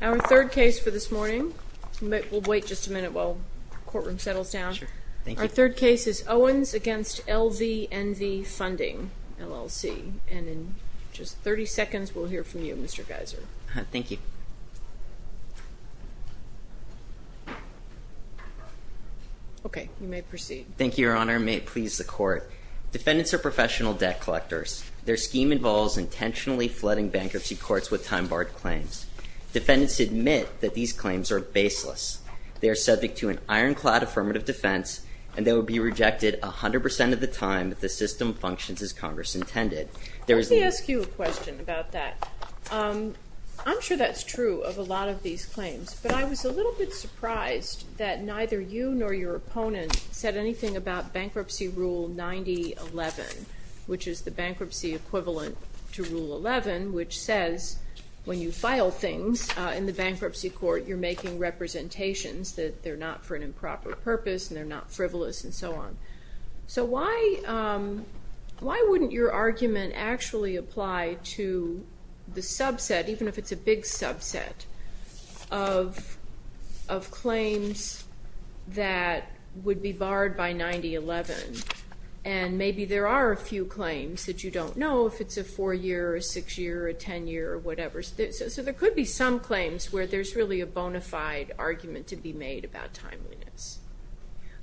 Our third case for this morning, we'll wait just a minute while the courtroom settles down. Our third case is Owens v. LVNV Funding, LLC. And in just 30 seconds we'll hear from you, Mr. Geiser. Thank you. Okay, you may proceed. Thank you, Your Honor. May it please the Court. Defendants are professional debt collectors. Their scheme involves intentionally flooding bankruptcy courts with time-barred claims. Defendants admit that these claims are baseless. They are subject to an ironclad affirmative defense, and they will be rejected 100% of the time if the system functions as Congress intended. Let me ask you a question about that. I'm sure that's true of a lot of these claims, but I was a little bit surprised that neither you nor your opponent said anything about Bankruptcy Rule 9011, which is the bankruptcy equivalent to Rule 11, which says when you file things in the bankruptcy court you're making representations that they're not for an improper purpose and they're not frivolous and so on. So why wouldn't your argument actually apply to the subset, even if it's a big subset, of claims that would be barred by 9011? And maybe there are a few claims that you don't know if it's a four-year or a six-year or a ten-year or whatever. So there could be some claims where there's really a bona fide argument to be made about timeliness.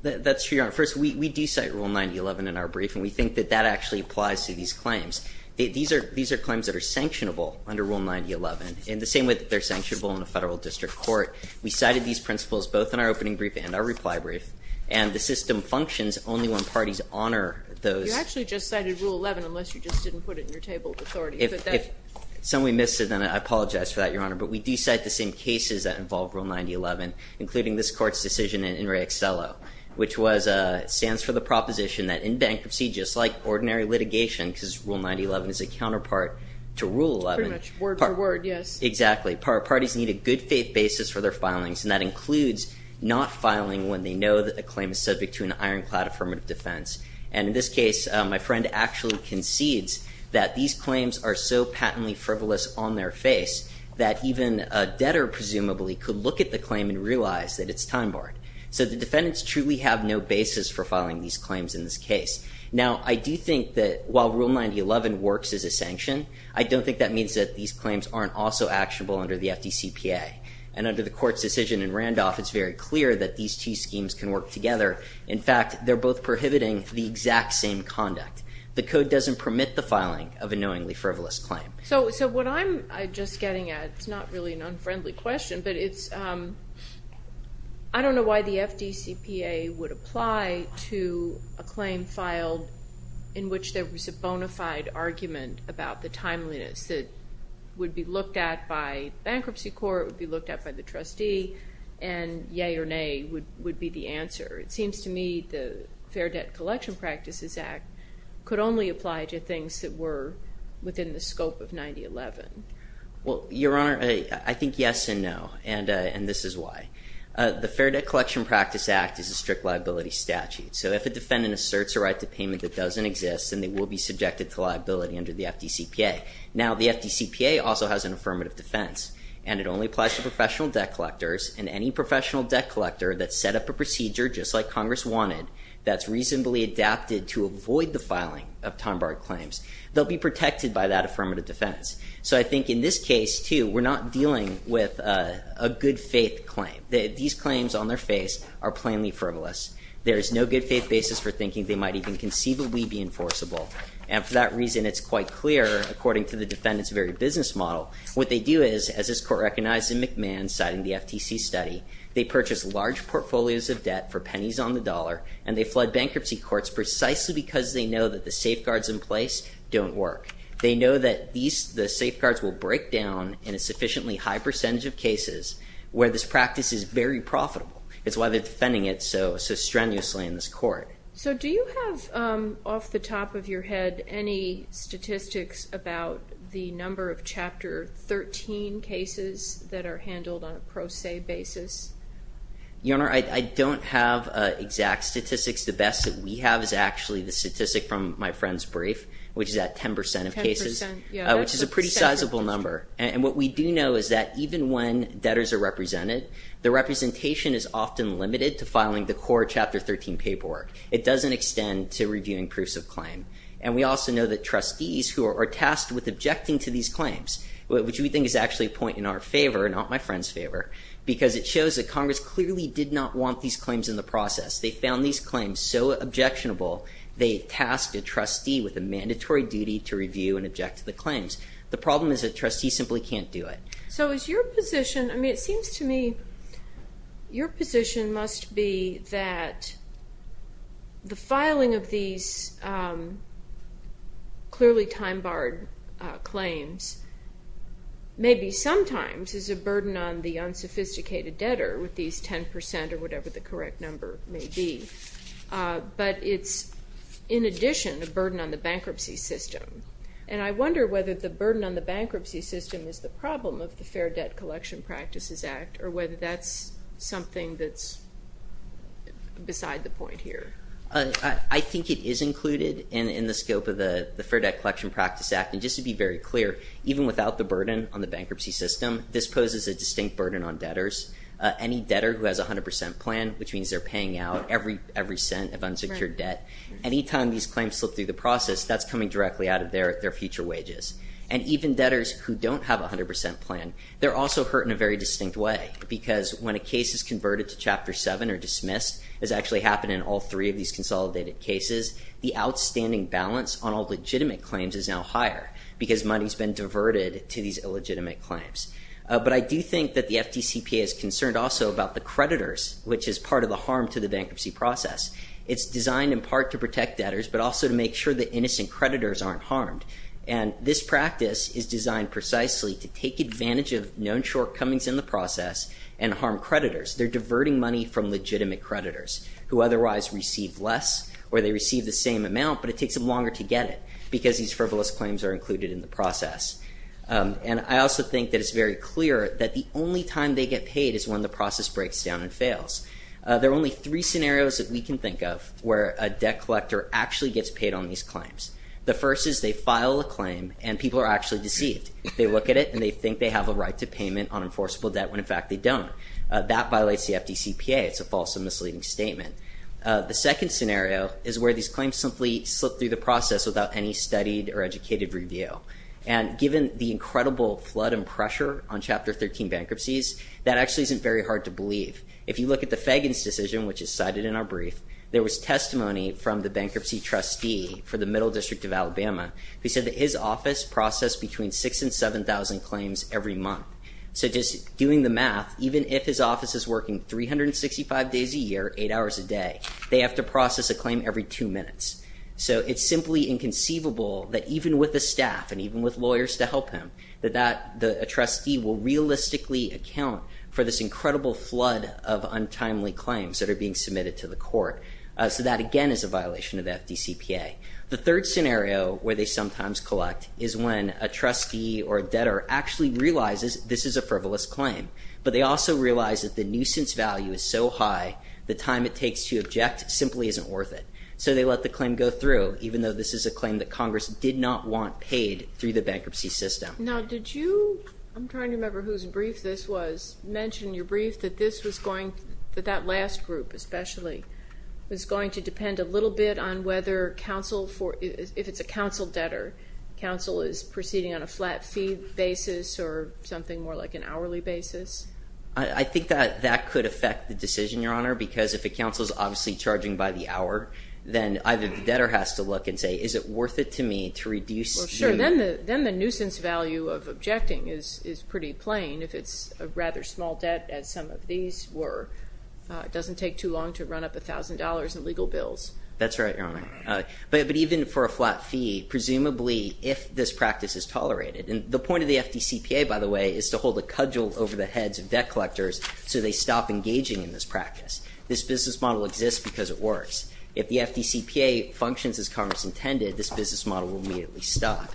That's true, Your Honor. First, we do cite Rule 9011 in our brief, and we think that that actually applies to these claims. These are claims that are sanctionable under Rule 9011, in the same way that they're sanctionable in a federal district court. We cited these principles both in our opening brief and our reply brief, and the system functions only when parties honor those. You actually just cited Rule 11, unless you just didn't put it in your table of authority. If somebody missed it, then I apologize for that, Your Honor. But we do cite the same cases that involve Rule 9011, including this Court's decision in In re Accelo, which stands for the proposition that in bankruptcy, just like ordinary litigation, because Rule 9011 is a counterpart to Rule 11. Pretty much word for word, yes. Exactly. Parties need a good faith basis for their filings, and that includes not filing when they know that the claim is subject to an ironclad affirmative defense. And in this case, my friend actually concedes that these claims are so patently frivolous on their face that even a debtor, presumably, could look at the claim and realize that it's time-borrowed. So the defendants truly have no basis for filing these claims in this case. Now, I do think that while Rule 9011 works as a sanction, I don't think that means that these claims aren't also actionable under the FDCPA. And under the Court's decision in Randolph, it's very clear that these two schemes can work together. In fact, they're both prohibiting the exact same conduct. The Code doesn't permit the filing of a knowingly frivolous claim. So what I'm just getting at is not really an unfriendly question, but I don't know why the FDCPA would apply to a claim filed in which there was a bona fide argument about the timeliness that would be looked at by bankruptcy court, would be looked at by the trustee, and yay or nay would be the answer. It seems to me the Fair Debt Collection Practices Act could only apply to things that were within the scope of 9011. Well, Your Honor, I think yes and no, and this is why. The Fair Debt Collection Practice Act is a strict liability statute. So if a defendant asserts a right to payment that doesn't exist, then they will be subjected to liability under the FDCPA. Now, the FDCPA also has an affirmative defense, and it only applies to professional debt collectors, and any professional debt collector that set up a procedure just like Congress wanted, that's reasonably adapted to avoid the filing of time-barred claims, they'll be protected by that affirmative defense. So I think in this case, too, we're not dealing with a good-faith claim. These claims on their face are plainly frivolous. There is no good-faith basis for thinking they might even conceivably be enforceable. And for that reason, it's quite clear, according to the defendant's very business model, what they do is, as this court recognized in McMahon, citing the FTC study, they purchase large portfolios of debt for pennies on the dollar, and they flood bankruptcy courts precisely because they know that the safeguards in place don't work. They know that the safeguards will break down in a sufficiently high percentage of cases where this practice is very profitable. It's why they're defending it so strenuously in this court. So do you have off the top of your head any statistics about the number of Chapter 13 cases that are handled on a pro se basis? Your Honor, I don't have exact statistics. The best that we have is actually the statistic from my friend's brief, which is at 10% of cases, which is a pretty sizable number. And what we do know is that even when debtors are represented, the representation is often limited to filing the core Chapter 13 paperwork. It doesn't extend to reviewing proofs of claim. And we also know that trustees who are tasked with objecting to these claims, which we think is actually a point in our favor, not my friend's favor, because it shows that Congress clearly did not want these claims in the process. They found these claims so objectionable, they tasked a trustee with a mandatory duty to review and object to the claims. The problem is that trustees simply can't do it. So is your position, I mean it seems to me, your position must be that the filing of these clearly time-barred claims maybe sometimes is a burden on the unsophisticated debtor with these 10% or whatever the correct number may be. But it's in addition a burden on the bankruptcy system. And I wonder whether the burden on the bankruptcy system is the problem of the Fair Debt Collection Practices Act or whether that's something that's beside the point here. I think it is included in the scope of the Fair Debt Collection Practice Act. And just to be very clear, even without the burden on the bankruptcy system, this poses a distinct burden on debtors. Any debtor who has a 100% plan, which means they're paying out every cent of unsecured debt, any time these claims slip through the process, that's coming directly out of their future wages. And even debtors who don't have a 100% plan, they're also hurt in a very distinct way because when a case is converted to Chapter 7 or dismissed, as actually happened in all three of these consolidated cases, the outstanding balance on all legitimate claims is now higher because money has been diverted to these illegitimate claims. But I do think that the FDCPA is concerned also about the creditors, which is part of the harm to the bankruptcy process. It's designed in part to protect debtors, but also to make sure that innocent creditors aren't harmed. And this practice is designed precisely to take advantage of known shortcomings in the process and harm creditors. They're diverting money from legitimate creditors who otherwise receive less or they receive the same amount, but it takes them longer to get it because these frivolous claims are included in the process. And I also think that it's very clear that the only time they get paid is when the process breaks down and fails. There are only three scenarios that we can think of where a debt collector actually gets paid on these claims. The first is they file a claim and people are actually deceived. They look at it and they think they have a right to payment on enforceable debt when in fact they don't. That violates the FDCPA. It's a false and misleading statement. The second scenario is where these claims simply slip through the process without any studied or educated review. And given the incredible flood and pressure on Chapter 13 bankruptcies, that actually isn't very hard to believe. If you look at the Fagan's decision, which is cited in our brief, there was testimony from the bankruptcy trustee for the Middle District of Alabama who said that his office processed between 6,000 and 7,000 claims every month. So just doing the math, even if his office is working 365 days a year, eight hours a day, they have to process a claim every two minutes. So it's simply inconceivable that even with the staff and even with lawyers to help him, that a trustee will realistically account for this incredible flood of untimely claims that are being submitted to the court. So that, again, is a violation of the FDCPA. The third scenario where they sometimes collect is when a trustee or a debtor actually realizes this is a frivolous claim, but they also realize that the nuisance value is so high, the time it takes to object simply isn't worth it. So they let the claim go through, even though this is a claim that Congress did not want paid through the bankruptcy system. Now did you, I'm trying to remember whose brief this was, mention in your brief that this was going, that that last group especially, was going to depend a little bit on whether counsel, if it's a counsel debtor, counsel is proceeding on a flat fee basis or something more like an hourly basis? I think that that could affect the decision, Your Honor, because if a counsel is obviously charging by the hour, then either the debtor has to look and say, is it worth it to me to reduce you? Well, sure, then the nuisance value of objecting is pretty plain if it's a rather small debt as some of these were. It doesn't take too long to run up $1,000 in legal bills. That's right, Your Honor. But even for a flat fee, presumably if this practice is tolerated, and the point of the FDCPA, by the way, is to hold a cudgel over the heads of debt collectors so they stop engaging in this practice. This business model exists because it works. If the FDCPA functions as Congress intended, this business model will immediately stop.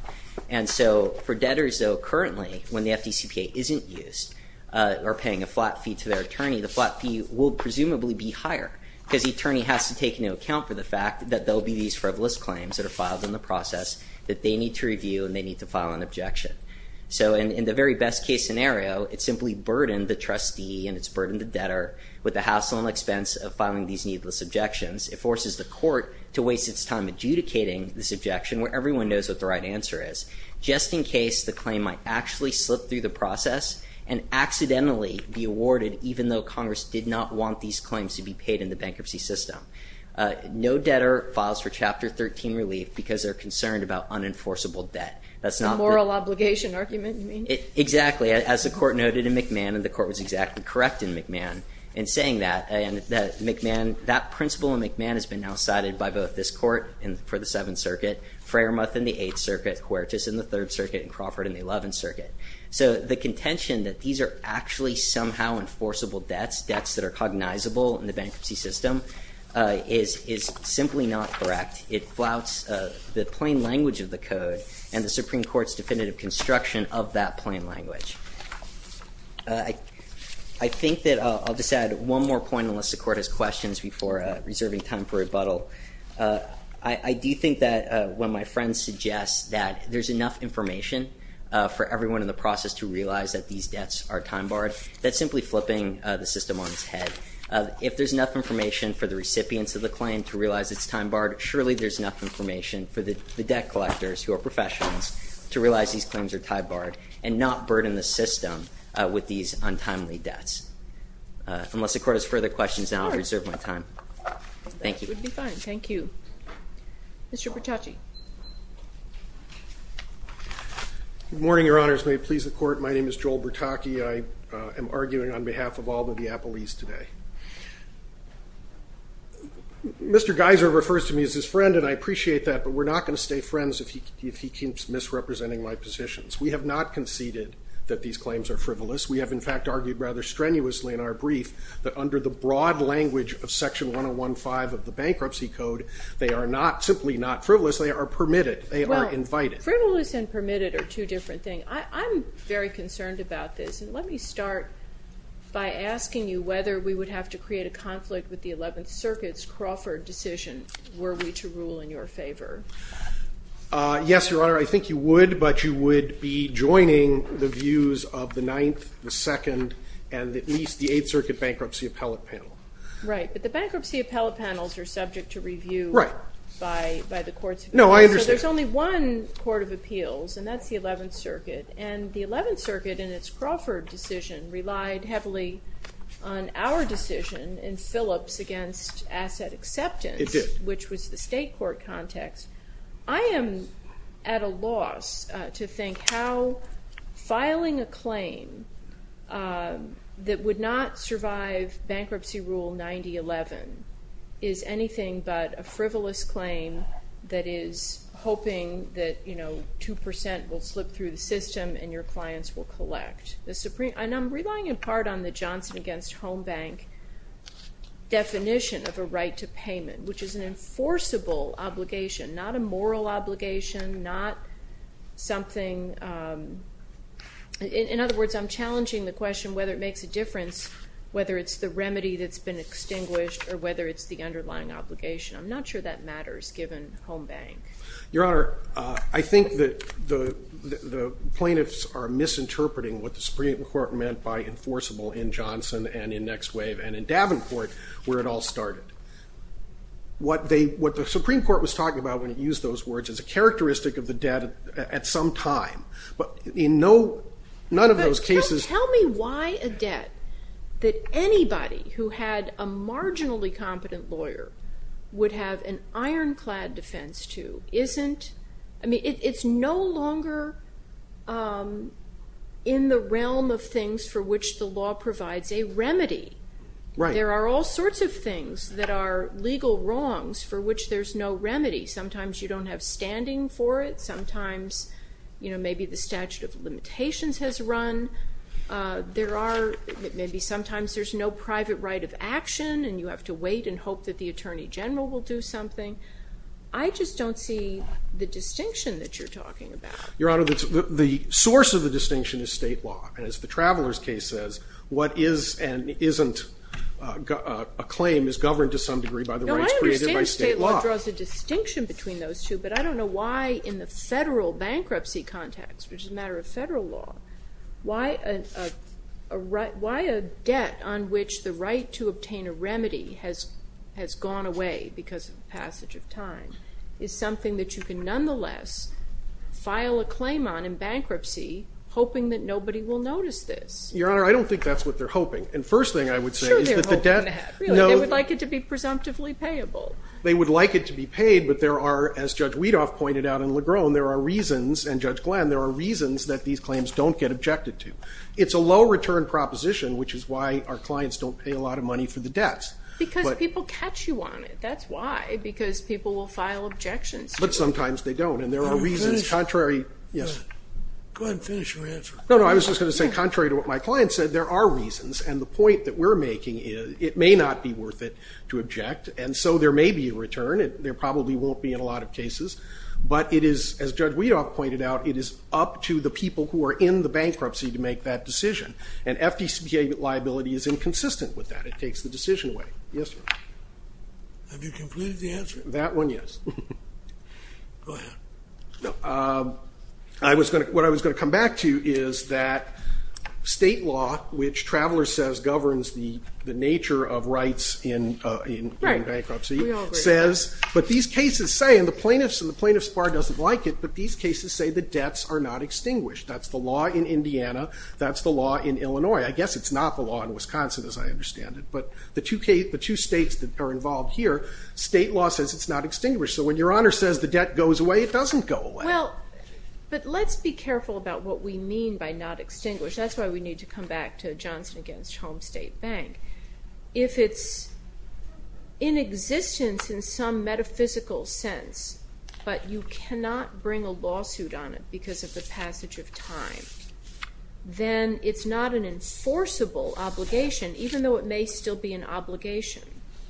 And so for debtors, though, currently, when the FDCPA isn't used or paying a flat fee to their attorney, the flat fee will presumably be higher because the attorney has to take into account for the fact that there will be these frivolous claims that are filed in the process that they need to review and they need to file an objection. So in the very best case scenario, it simply burdened the trustee and it's burdened the debtor with the hassle and expense of filing these needless objections. It forces the court to waste its time adjudicating this objection where everyone knows what the right answer is, just in case the claim might actually slip through the process and accidentally be awarded even though Congress did not want these claims to be paid in the bankruptcy system. No debtor files for Chapter 13 relief because they're concerned about unenforceable debt. The moral obligation argument, you mean? Exactly. As the court noted in McMahon, and the court was exactly correct in McMahon in saying that, and that McMahon, that principle in McMahon has been now cited by both this court for the Seventh Circuit, Framuth in the Eighth Circuit, Huertas in the Third Circuit, and Crawford in the Eleventh Circuit. So the contention that these are actually somehow enforceable debts, debts that are cognizable in the bankruptcy system, is simply not correct. It flouts the plain language of the code and the Supreme Court's definitive construction of that plain language. I think that I'll just add one more point unless the court has questions before reserving time for rebuttal. I do think that when my friend suggests that there's enough information for everyone in the process to realize that these debts are time-barred, that's simply flipping the system on its head. If there's enough information for the recipients of the claim to realize it's time-barred, surely there's enough information for the debt collectors who are professionals to realize these claims are time-barred and not burden the system with these untimely debts. Unless the court has further questions, then I'll reserve my time. Thank you. That would be fine. Thank you. Mr. Bertacci. Good morning, Your Honors. May it please the court, my name is Joel Bertacci. I am arguing on behalf of all the Diapolese today. Mr. Geiser refers to me as his friend, and I appreciate that, but we're not going to stay friends if he keeps misrepresenting my positions. We have not conceded that these claims are frivolous. We have, in fact, argued rather strenuously in our brief that under the broad language of Section 101.5 of the Bankruptcy Code, they are simply not frivolous, they are permitted, they are invited. Well, frivolous and permitted are two different things. I'm very concerned about this, and let me start by asking you whether we would have to create a conflict with the Eleventh Circuit's Crawford decision were we to rule in your favor. Yes, Your Honor, I think you would, but you would be joining the views of the Ninth, the Second, and at least the Eighth Circuit Bankruptcy Appellate Panel. Right, but the Bankruptcy Appellate Panels are subject to review by the courts. No, I understand. So there's only one court of appeals, and that's the Eleventh Circuit, and the Eleventh Circuit in its Crawford decision relied heavily on our decision in Phillips against asset acceptance, which was the state court context. I am at a loss to think how filing a claim that would not survive Bankruptcy Rule 9011 is anything but a frivolous claim that is hoping that, you know, 2% will slip through the system and your clients will collect. And I'm relying in part on the Johnson against Home Bank definition of a right to payment, which is an enforceable obligation, not a moral obligation, not something. In other words, I'm challenging the question whether it makes a difference whether it's the remedy that's been extinguished or whether it's the underlying obligation. I'm not sure that matters given Home Bank. Your Honor, I think that the plaintiffs are misinterpreting what the Supreme Court meant by enforceable in Johnson and in Next Wave and in Davenport where it all started. What the Supreme Court was talking about when it used those words is a characteristic of the debt at some time. But in none of those cases. Tell me why a debt that anybody who had a marginally competent lawyer would have an ironclad defense to isn't. I mean, it's no longer in the realm of things for which the law provides a remedy. There are all sorts of things that are legal wrongs for which there's no remedy. Sometimes you don't have standing for it. Sometimes maybe the statute of limitations has run. Maybe sometimes there's no private right of action and you have to wait and hope that the Attorney General will do something. I just don't see the distinction that you're talking about. Your Honor, the source of the distinction is state law. And as the Traveler's case says, what is and isn't a claim is governed to some degree by the rights created by state law. No, I understand state law draws a distinction between those two. But I don't know why in the federal bankruptcy context, which is a matter of federal law, why a debt on which the right to obtain a remedy has gone away because of the passage of time is something that you can nonetheless file a claim on in bankruptcy hoping that nobody will notice this. Your Honor, I don't think that's what they're hoping. And first thing I would say is that the debt... Sure they're hoping that. They would like it to be presumptively payable. They would like it to be paid, but there are, as Judge Weedoff pointed out in Legrone, there are reasons, and Judge Glenn, there are reasons that these claims don't get objected to. It's a low return proposition, which is why our clients don't pay a lot of money for the debts. Because people catch you on it, that's why. Because people will file objections. But sometimes they don't. And there are reasons contrary... Go ahead and finish your answer. No, no, I was just going to say contrary to what my client said, there are reasons. And the point that we're making is it may not be worth it to object. And so there may be a return. There probably won't be in a lot of cases. But it is, as Judge Weedoff pointed out, it is up to the people who are in the bankruptcy to make that decision. And FDCA liability is inconsistent with that. It takes the decision away. Yes, Your Honor. Have you completed the answer? That one, yes. Go ahead. No. What I was going to come back to is that state law, which Traveler says governs the nature of rights in bankruptcy, says, but these cases say, and the plaintiffs bar doesn't like it, but these cases say the debts are not extinguished. That's the law in Indiana. That's the law in Illinois. I guess it's not the law in Wisconsin, as I understand it. But the two states that are involved here, state law says it's not extinguished. So when Your Honor says the debt goes away, it doesn't go away. Well, but let's be careful about what we mean by not extinguished. That's why we need to come back to Johnson against Homestead Bank. If it's in existence in some metaphysical sense, but you cannot bring a lawsuit on it because of the passage of time, then it's not an enforceable obligation, even though it may still be an obligation.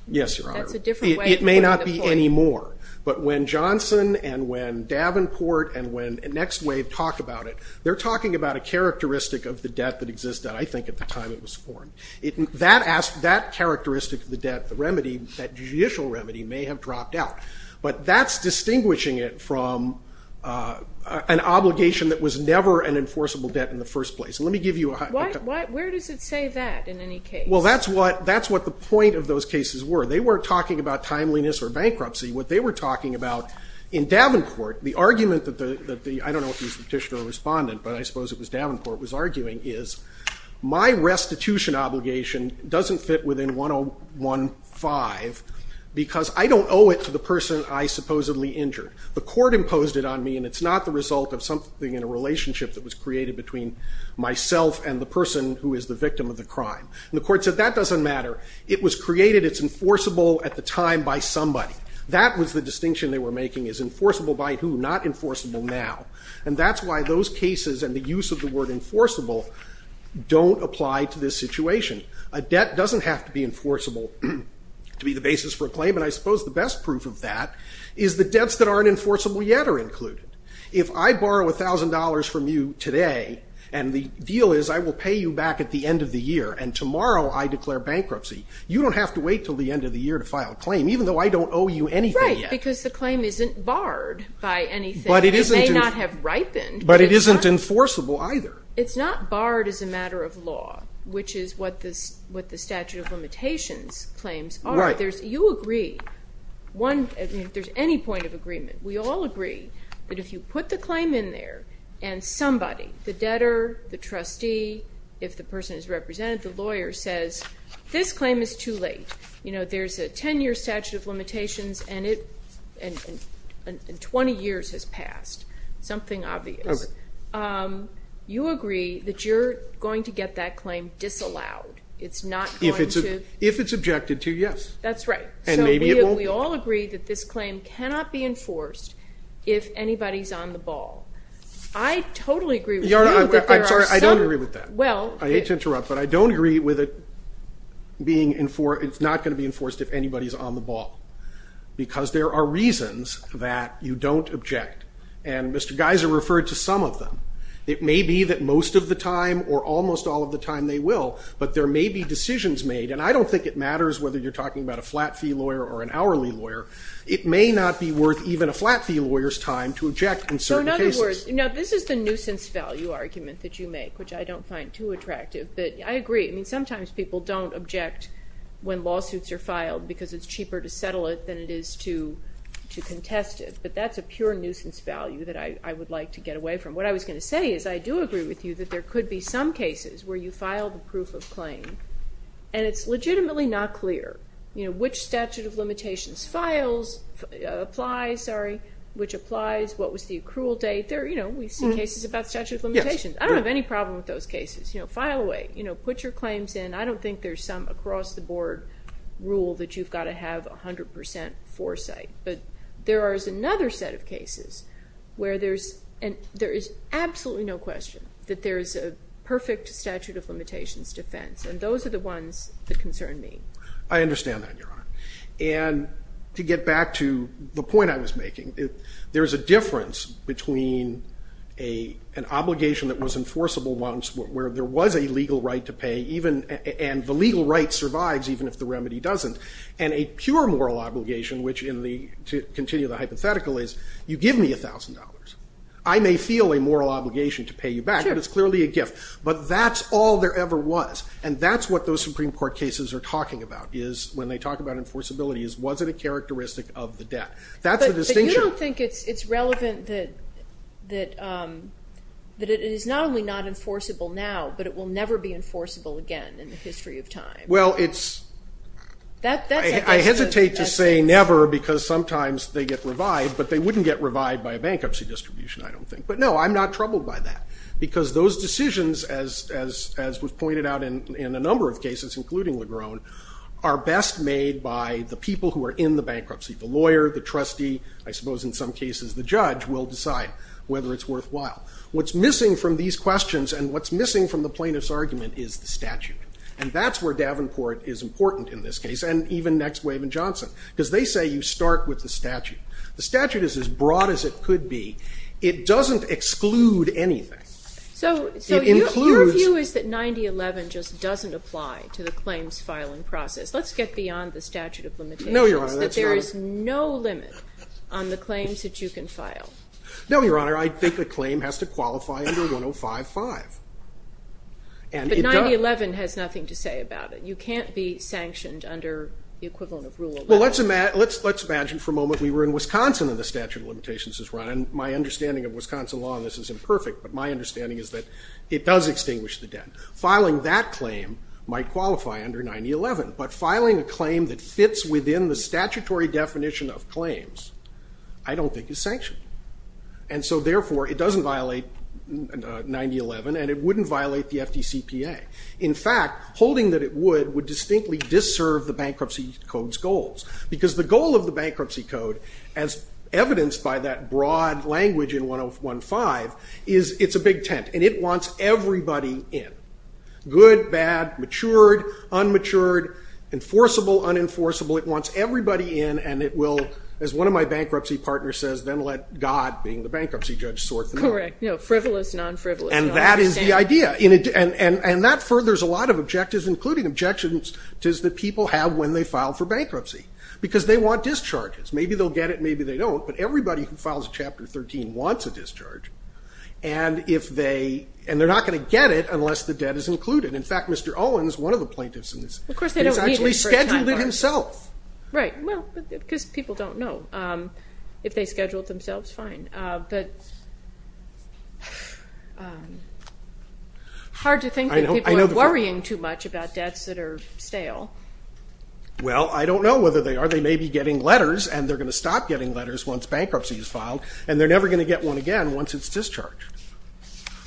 Yes, Your Honor. That's a different way of putting it. It may not be anymore. But when Johnson and when Davenport and when Next Wave talked about it, they're talking about a characteristic of the debt that exists, that I think at the time it was formed. That characteristic of the debt, the remedy, that judicial remedy may have dropped out. But that's distinguishing it from an obligation that was never an enforceable debt in the first place. And let me give you a- Where does it say that in any case? Well, that's what the point of those cases were. They weren't talking about timeliness or bankruptcy. What they were talking about in Davenport, the argument that the, I don't know if he was petitioner or respondent, but I suppose it was Davenport, was arguing is my restitution obligation doesn't fit within 101.5 because I don't owe it to the person I supposedly injured. The court imposed it on me, and it's not the result of something in a relationship that was created between myself and the person who is the victim of the crime. And the court said that doesn't matter. It was created, it's enforceable at the time by somebody. That was the distinction they were making, is enforceable by who, not enforceable now. And that's why those cases and the use of the word enforceable don't apply to this situation. A debt doesn't have to be enforceable to be the basis for a claim, and I suppose the best proof of that is the debts that aren't enforceable yet are included. If I borrow $1,000 from you today, and the deal is I will pay you back at the end of the year, and tomorrow I declare bankruptcy, you don't have to wait until the end of the year to file a claim, even though I don't owe you anything yet. Right, because the claim isn't barred by anything. It may not have ripened. But it isn't enforceable either. It's not barred as a matter of law, which is what the statute of limitations claims are. You agree, if there's any point of agreement, we all agree that if you put the claim in there and somebody, the debtor, the trustee, if the person is represented, the lawyer, says this claim is too late. You know, there's a 10-year statute of limitations, and 20 years has passed, something obvious. Okay. You agree that you're going to get that claim disallowed. It's not going to. If it's objected to, yes. That's right. And maybe it won't be. So we all agree that this claim cannot be enforced if anybody's on the ball. I totally agree with you that there are some. I'm sorry, I don't agree with that. Well. I hate to interrupt, but I don't agree with it being enforced. It's not going to be enforced if anybody's on the ball, because there are reasons that you don't object, and Mr. Geiser referred to some of them. It may be that most of the time or almost all of the time they will, but there may be decisions made, and I don't think it matters whether you're talking about a flat fee lawyer or an hourly lawyer. It may not be worth even a flat fee lawyer's time to object in certain cases. So, in other words, this is the nuisance value argument that you make, which I don't find too attractive, but I agree. I mean, sometimes people don't object when lawsuits are filed because it's cheaper to settle it than it is to contest it, but that's a pure nuisance value that I would like to get away from. What I was going to say is I do agree with you that there could be some cases where you file the proof of claim and it's legitimately not clear, you know, which statute of limitations files, applies, sorry, which applies, what was the accrual date. You know, we see cases about statute of limitations. I don't have any problem with those cases. You know, file away. You know, put your claims in. I don't think there's some across-the-board rule that you've got to have 100% foresight, but there is another set of cases where there is absolutely no question that there is a perfect statute of limitations defense, and those are the ones that concern me. I understand that, Your Honor. And to get back to the point I was making, there is a difference between an obligation that was enforceable once where there was a legal right to pay, and the legal right survives even if the remedy doesn't, and a pure moral obligation which, to continue the hypothetical, is you give me $1,000. I may feel a moral obligation to pay you back, but it's clearly a gift. But that's all there ever was, and that's what those Supreme Court cases are talking about when they talk about enforceability is was it a characteristic of the debt. That's the distinction. I don't think it's relevant that it is not only not enforceable now, but it will never be enforceable again in the history of time. Well, I hesitate to say never because sometimes they get revived, but they wouldn't get revived by a bankruptcy distribution, I don't think. But, no, I'm not troubled by that because those decisions, as was pointed out in a number of cases, including Legrone, are best made by the people who are in the bankruptcy, the lawyer, the trustee, I suppose in some cases the judge, will decide whether it's worthwhile. What's missing from these questions and what's missing from the plaintiff's argument is the statute. And that's where Davenport is important in this case, and even Next Wave and Johnson, because they say you start with the statute. The statute is as broad as it could be. It doesn't exclude anything. It includes. So your view is that 9011 just doesn't apply to the claims filing process. Let's get beyond the statute of limitations. No, Your Honor. There is no limit on the claims that you can file. No, Your Honor. I think a claim has to qualify under 1055. But 9011 has nothing to say about it. You can't be sanctioned under the equivalent of Rule 11. Well, let's imagine for a moment we were in Wisconsin and the statute of limitations is run. And my understanding of Wisconsin law on this is imperfect, but my understanding is that it does extinguish the debt. Filing that claim might qualify under 9011, but filing a claim that fits within the statutory definition of claims I don't think is sanctioned. And so, therefore, it doesn't violate 9011 and it wouldn't violate the FDCPA. In fact, holding that it would would distinctly disserve the Bankruptcy Code's goals because the goal of the Bankruptcy Code, as evidenced by that broad language in 1015, is it's a big tent, and it wants everybody in. Good, bad, matured, unmatured, enforceable, unenforceable. It wants everybody in, and it will, as one of my bankruptcy partners says, then let God, being the bankruptcy judge, sort them out. Correct. No, frivolous, non-frivolous. And that is the idea. And that furthers a lot of objectives, including objections that people have when they file for bankruptcy because they want discharges. Maybe they'll get it, maybe they don't, but everybody who files Chapter 13 wants a discharge. And they're not going to get it unless the debt is included. In fact, Mr. Owens, one of the plaintiffs in this, he's actually scheduled it himself. Right, well, because people don't know. If they scheduled themselves, fine. Hard to think that people are worrying too much about debts that are stale. Well, I don't know whether they are. They may be getting letters, and they're going to stop getting letters once bankruptcy is filed, and they're never going to get one again once it's discharged.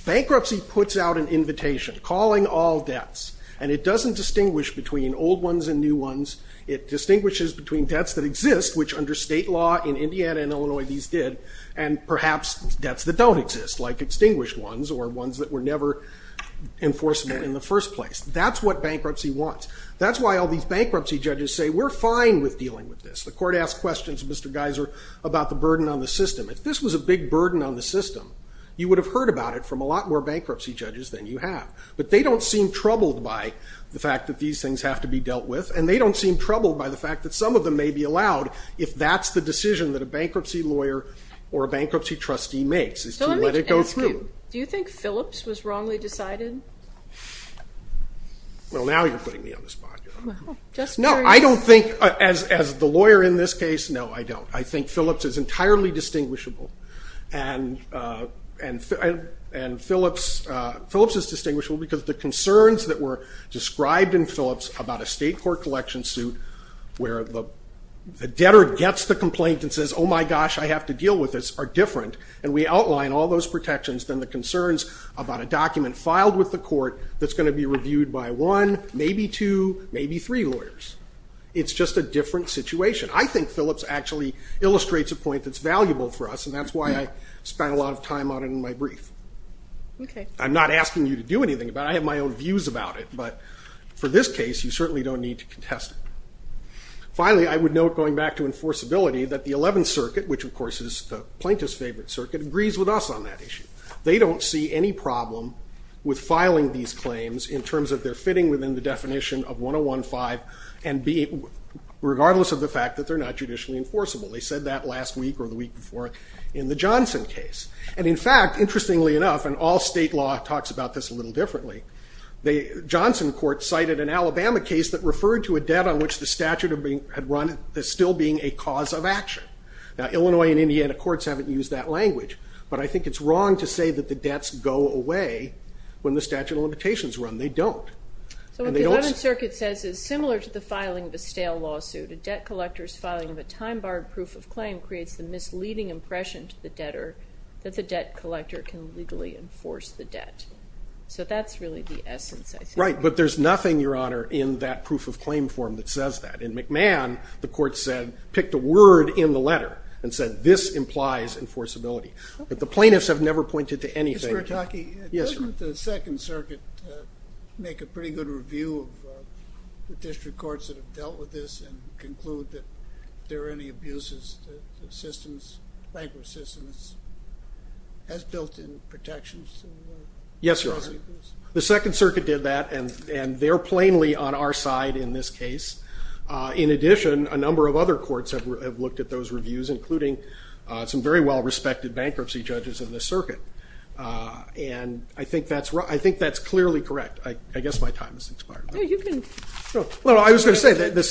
Bankruptcy puts out an invitation calling all debts, and it doesn't distinguish between old ones and new ones. It distinguishes between debts that exist, which under state law in Indiana and Illinois these did, and perhaps debts that don't exist, like extinguished ones or ones that were never enforceable in the first place. That's what bankruptcy wants. That's why all these bankruptcy judges say, we're fine with dealing with this. The court asked questions, Mr. Geiser, about the burden on the system. If this was a big burden on the system, you would have heard about it from a lot more bankruptcy judges than you have. But they don't seem troubled by the fact that these things have to be dealt with, and they don't seem troubled by the fact that some of them may be allowed if that's the decision that a bankruptcy lawyer or a bankruptcy trustee makes, is to let it go through. Do you think Phillips was wrongly decided? Well, now you're putting me on the spot. No, I don't think, as the lawyer in this case, no, I don't. I think Phillips is entirely distinguishable. And Phillips is distinguishable because the concerns that were described in Phillips about a state court collection suit where the debtor gets the complaint and says, oh, my gosh, I have to deal with this, are different. And we outline all those protections. Then the concerns about a document filed with the court that's going to be reviewed by one, maybe two, maybe three lawyers. It's just a different situation. I think Phillips actually illustrates a point that's valuable for us, and that's why I spent a lot of time on it in my brief. I'm not asking you to do anything about it. I have my own views about it. But for this case, you certainly don't need to contest it. Finally, I would note, going back to enforceability, that the Eleventh Circuit, which, of course, is the plaintiff's favorite circuit, agrees with us on that issue. They don't see any problem with filing these claims in terms of their fitting within the definition of 101.5, regardless of the fact that they're not judicially enforceable. They said that last week or the week before in the Johnson case. And, in fact, interestingly enough, and all state law talks about this a little differently, the Johnson court cited an Alabama case that referred to a debt on which the statute had run as still being a cause of action. Now, Illinois and Indiana courts haven't used that language. But I think it's wrong to say that the debts go away when the statute of limitations run. They don't. So what the Eleventh Circuit says is, similar to the filing of a stale lawsuit, a debt collector's filing of a time-barred proof of claim creates the misleading impression to the debtor that the debt collector can legally enforce the debt. So that's really the essence, I think. Right. But there's nothing, Your Honor, In McMahon, the court said, picked a word in the letter and said, this implies enforceability. But the plaintiffs have never pointed to anything. Mr. Bertocchi? Yes, Your Honor. Didn't the Second Circuit make a pretty good review of the district courts that have dealt with this and conclude that if there are any abuses, the system's bankers' system has built-in protections? Yes, Your Honor. The Second Circuit did that, and they're plainly on our side in this case. In addition, a number of other courts have looked at those reviews, including some very well-respected bankruptcy judges in the circuit. And I think that's clearly correct. I guess my time has expired. No, you can go. No, I was going to say, the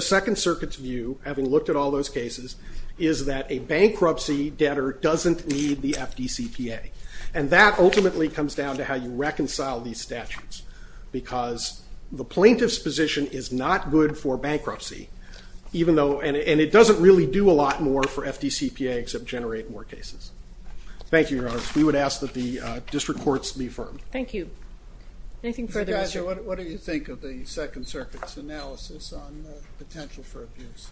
Second Circuit's view, having looked at all those cases, is that a bankruptcy debtor doesn't need the FDCPA. And that ultimately comes down to how you reconcile these statutes. Because the plaintiff's position is not good for bankruptcy, and it doesn't really do a lot more for FDCPA except generate more cases. Thank you, Your Honor. We would ask that the district courts be affirmed. Thank you. Anything further? What do you think of the Second Circuit's analysis on the potential for abuse?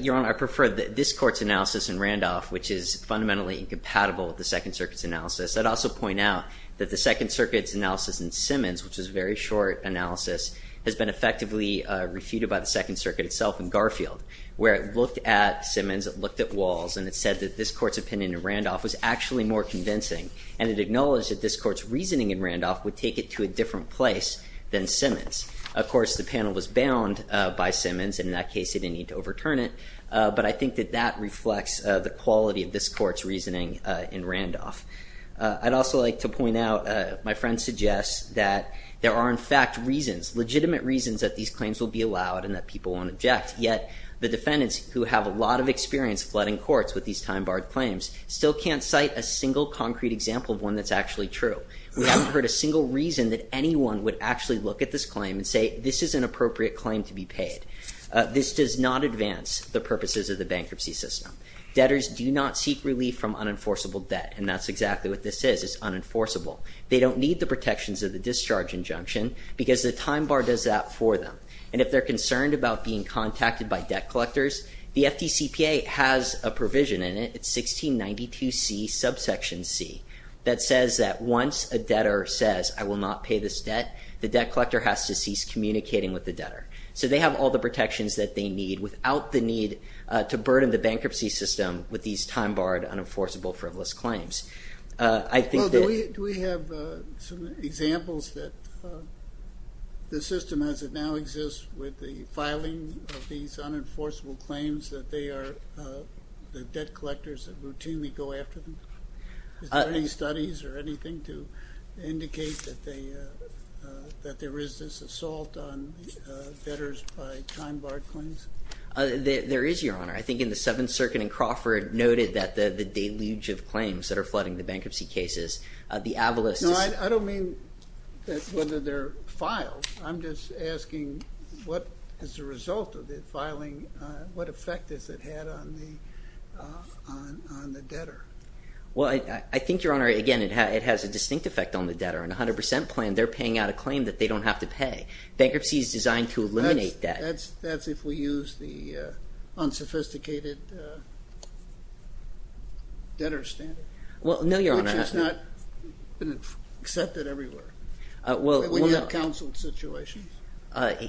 Your Honor, I prefer this court's analysis in Randolph, which is fundamentally incompatible with the Second Circuit's analysis. I'd also point out that the Second Circuit's analysis in Simmons, which is a very short analysis, has been effectively refuted by the Second Circuit itself in Garfield, where it looked at Simmons, it looked at Walls, and it said that this court's opinion in Randolph was actually more convincing. And it acknowledged that this court's reasoning in Randolph would take it to a different place than Simmons. Of course, the panel was bound by Simmons. In that case, they didn't need to overturn it. But I think that that reflects the quality of this court's reasoning in Randolph. I'd also like to point out, my friend suggests that there are, in fact, reasons, legitimate reasons, that these claims will be allowed and that people won't object. Yet, the defendants, who have a lot of experience flooding courts with these time-barred claims, still can't cite a single concrete example of one that's actually true. We haven't heard a single reason that anyone would actually look at this claim and say, this is an appropriate claim to be paid. This does not advance the purposes of the bankruptcy system. Debtors do not seek relief from unenforceable debt. And that's exactly what this is. It's unenforceable. They don't need the protections of the discharge injunction because the time bar does that for them. And if they're concerned about being contacted by debt collectors, the FDCPA has a provision in it. It's 1692C, subsection C, that says that once a debtor says, I will not pay this debt, the debt collector has to cease communicating with the debtor. So they have all the protections that they need without the need to burden the bankruptcy system with these time-barred, unenforceable, frivolous claims. Do we have some examples that the system, as it now exists with the filing of these unenforceable claims, that they are the debt collectors that routinely go after them? Is there any studies or anything to indicate that there is this assault on debtors by time-barred claims? There is, Your Honor. I think in the Seventh Circuit and Crawford noted that the deluge of claims that are flooding the bankruptcy cases, the avalos. No, I don't mean whether they're filed. I'm just asking, as a result of the filing, what effect has it had on the debtor? Well, I think, Your Honor, again, it has a distinct effect on the debtor. In a 100% plan, they're paying out a claim that they don't have to pay. Bankruptcy is designed to eliminate that. That's if we use the unsophisticated debtor standard. Well, no, Your Honor. Which has not been accepted everywhere. Even in a counseled situation?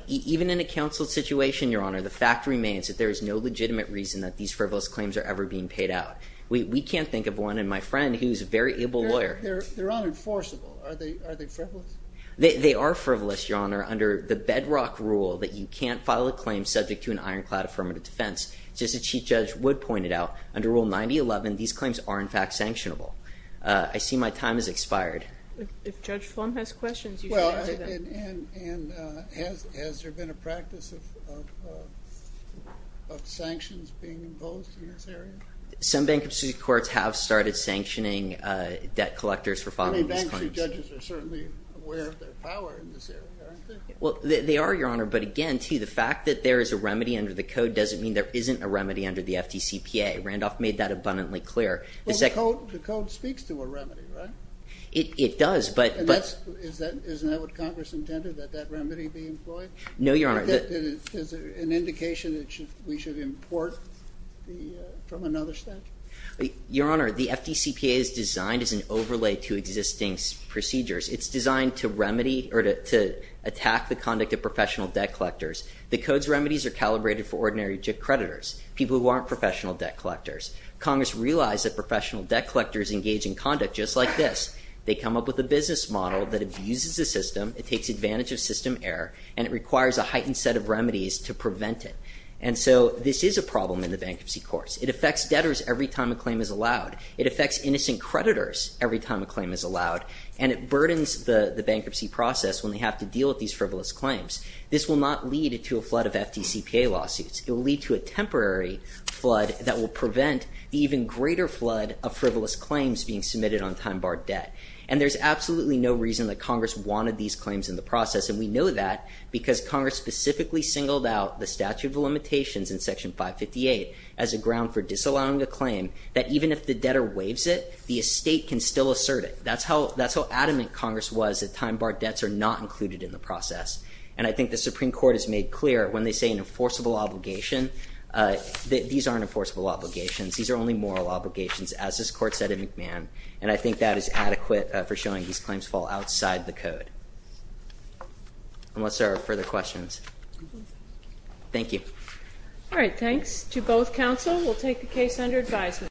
Even in a counseled situation, Your Honor, the fact remains that there is no legitimate reason that these frivolous claims are ever being paid out. We can't think of one, and my friend, who's a very able lawyer... They're unenforceable. Are they frivolous? They are frivolous, Your Honor, under the bedrock rule that you can't file a claim subject to an ironclad affirmative defense. Just as Chief Judge Wood pointed out, under Rule 9011, these claims are, in fact, sanctionable. I see my time has expired. If Judge Flom has questions, you can answer them. Well, and has there been a practice of sanctions being imposed in this area? Some bankruptcy courts have started sanctioning debt collectors for filing these claims. I mean, bankruptcy judges are certainly aware of their power in this area, aren't they? Well, they are, Your Honor, but again, too, the fact that there is a remedy under the code doesn't mean there isn't a remedy under the FDCPA. Randolph made that abundantly clear. Well, the code speaks to a remedy, right? It does, but... Isn't that what Congress intended, that that remedy be employed? No, Your Honor. Is it an indication that we should import from another statute? Your Honor, the FDCPA is designed as an overlay to existing procedures. It's designed to attack the conduct of professional debt collectors. The code's remedies are calibrated for ordinary creditors, people who aren't professional debt collectors. Congress realized that professional debt collectors engage in conduct just like this. They come up with a business model that abuses the system, it takes advantage of system error, and it requires a heightened set of remedies to prevent it. And so this is a problem in the bankruptcy courts. It affects debtors every time a claim is allowed. It affects innocent creditors every time a claim is allowed, and it burdens the bankruptcy process when they have to deal with these frivolous claims. This will not lead to a flood of FDCPA lawsuits. It will lead to a temporary flood that will prevent the even greater flood of frivolous claims being submitted on time-barred debt. And there's absolutely no reason that Congress wanted these claims in the process, and we know that because Congress specifically singled out the statute of limitations in Section 558 as a ground for disallowing a claim that even if the debtor waives it, the estate can still assert it. That's how adamant Congress was that time-barred debts are not included in the process. And I think the Supreme Court has made clear when they say an enforceable obligation that these aren't enforceable obligations. These are only moral obligations, as this Court said in McMahon. And I think that is adequate for showing these claims fall outside the code. Unless there are further questions. Thank you. All right, thanks to both counsel. We'll take the case under advisement.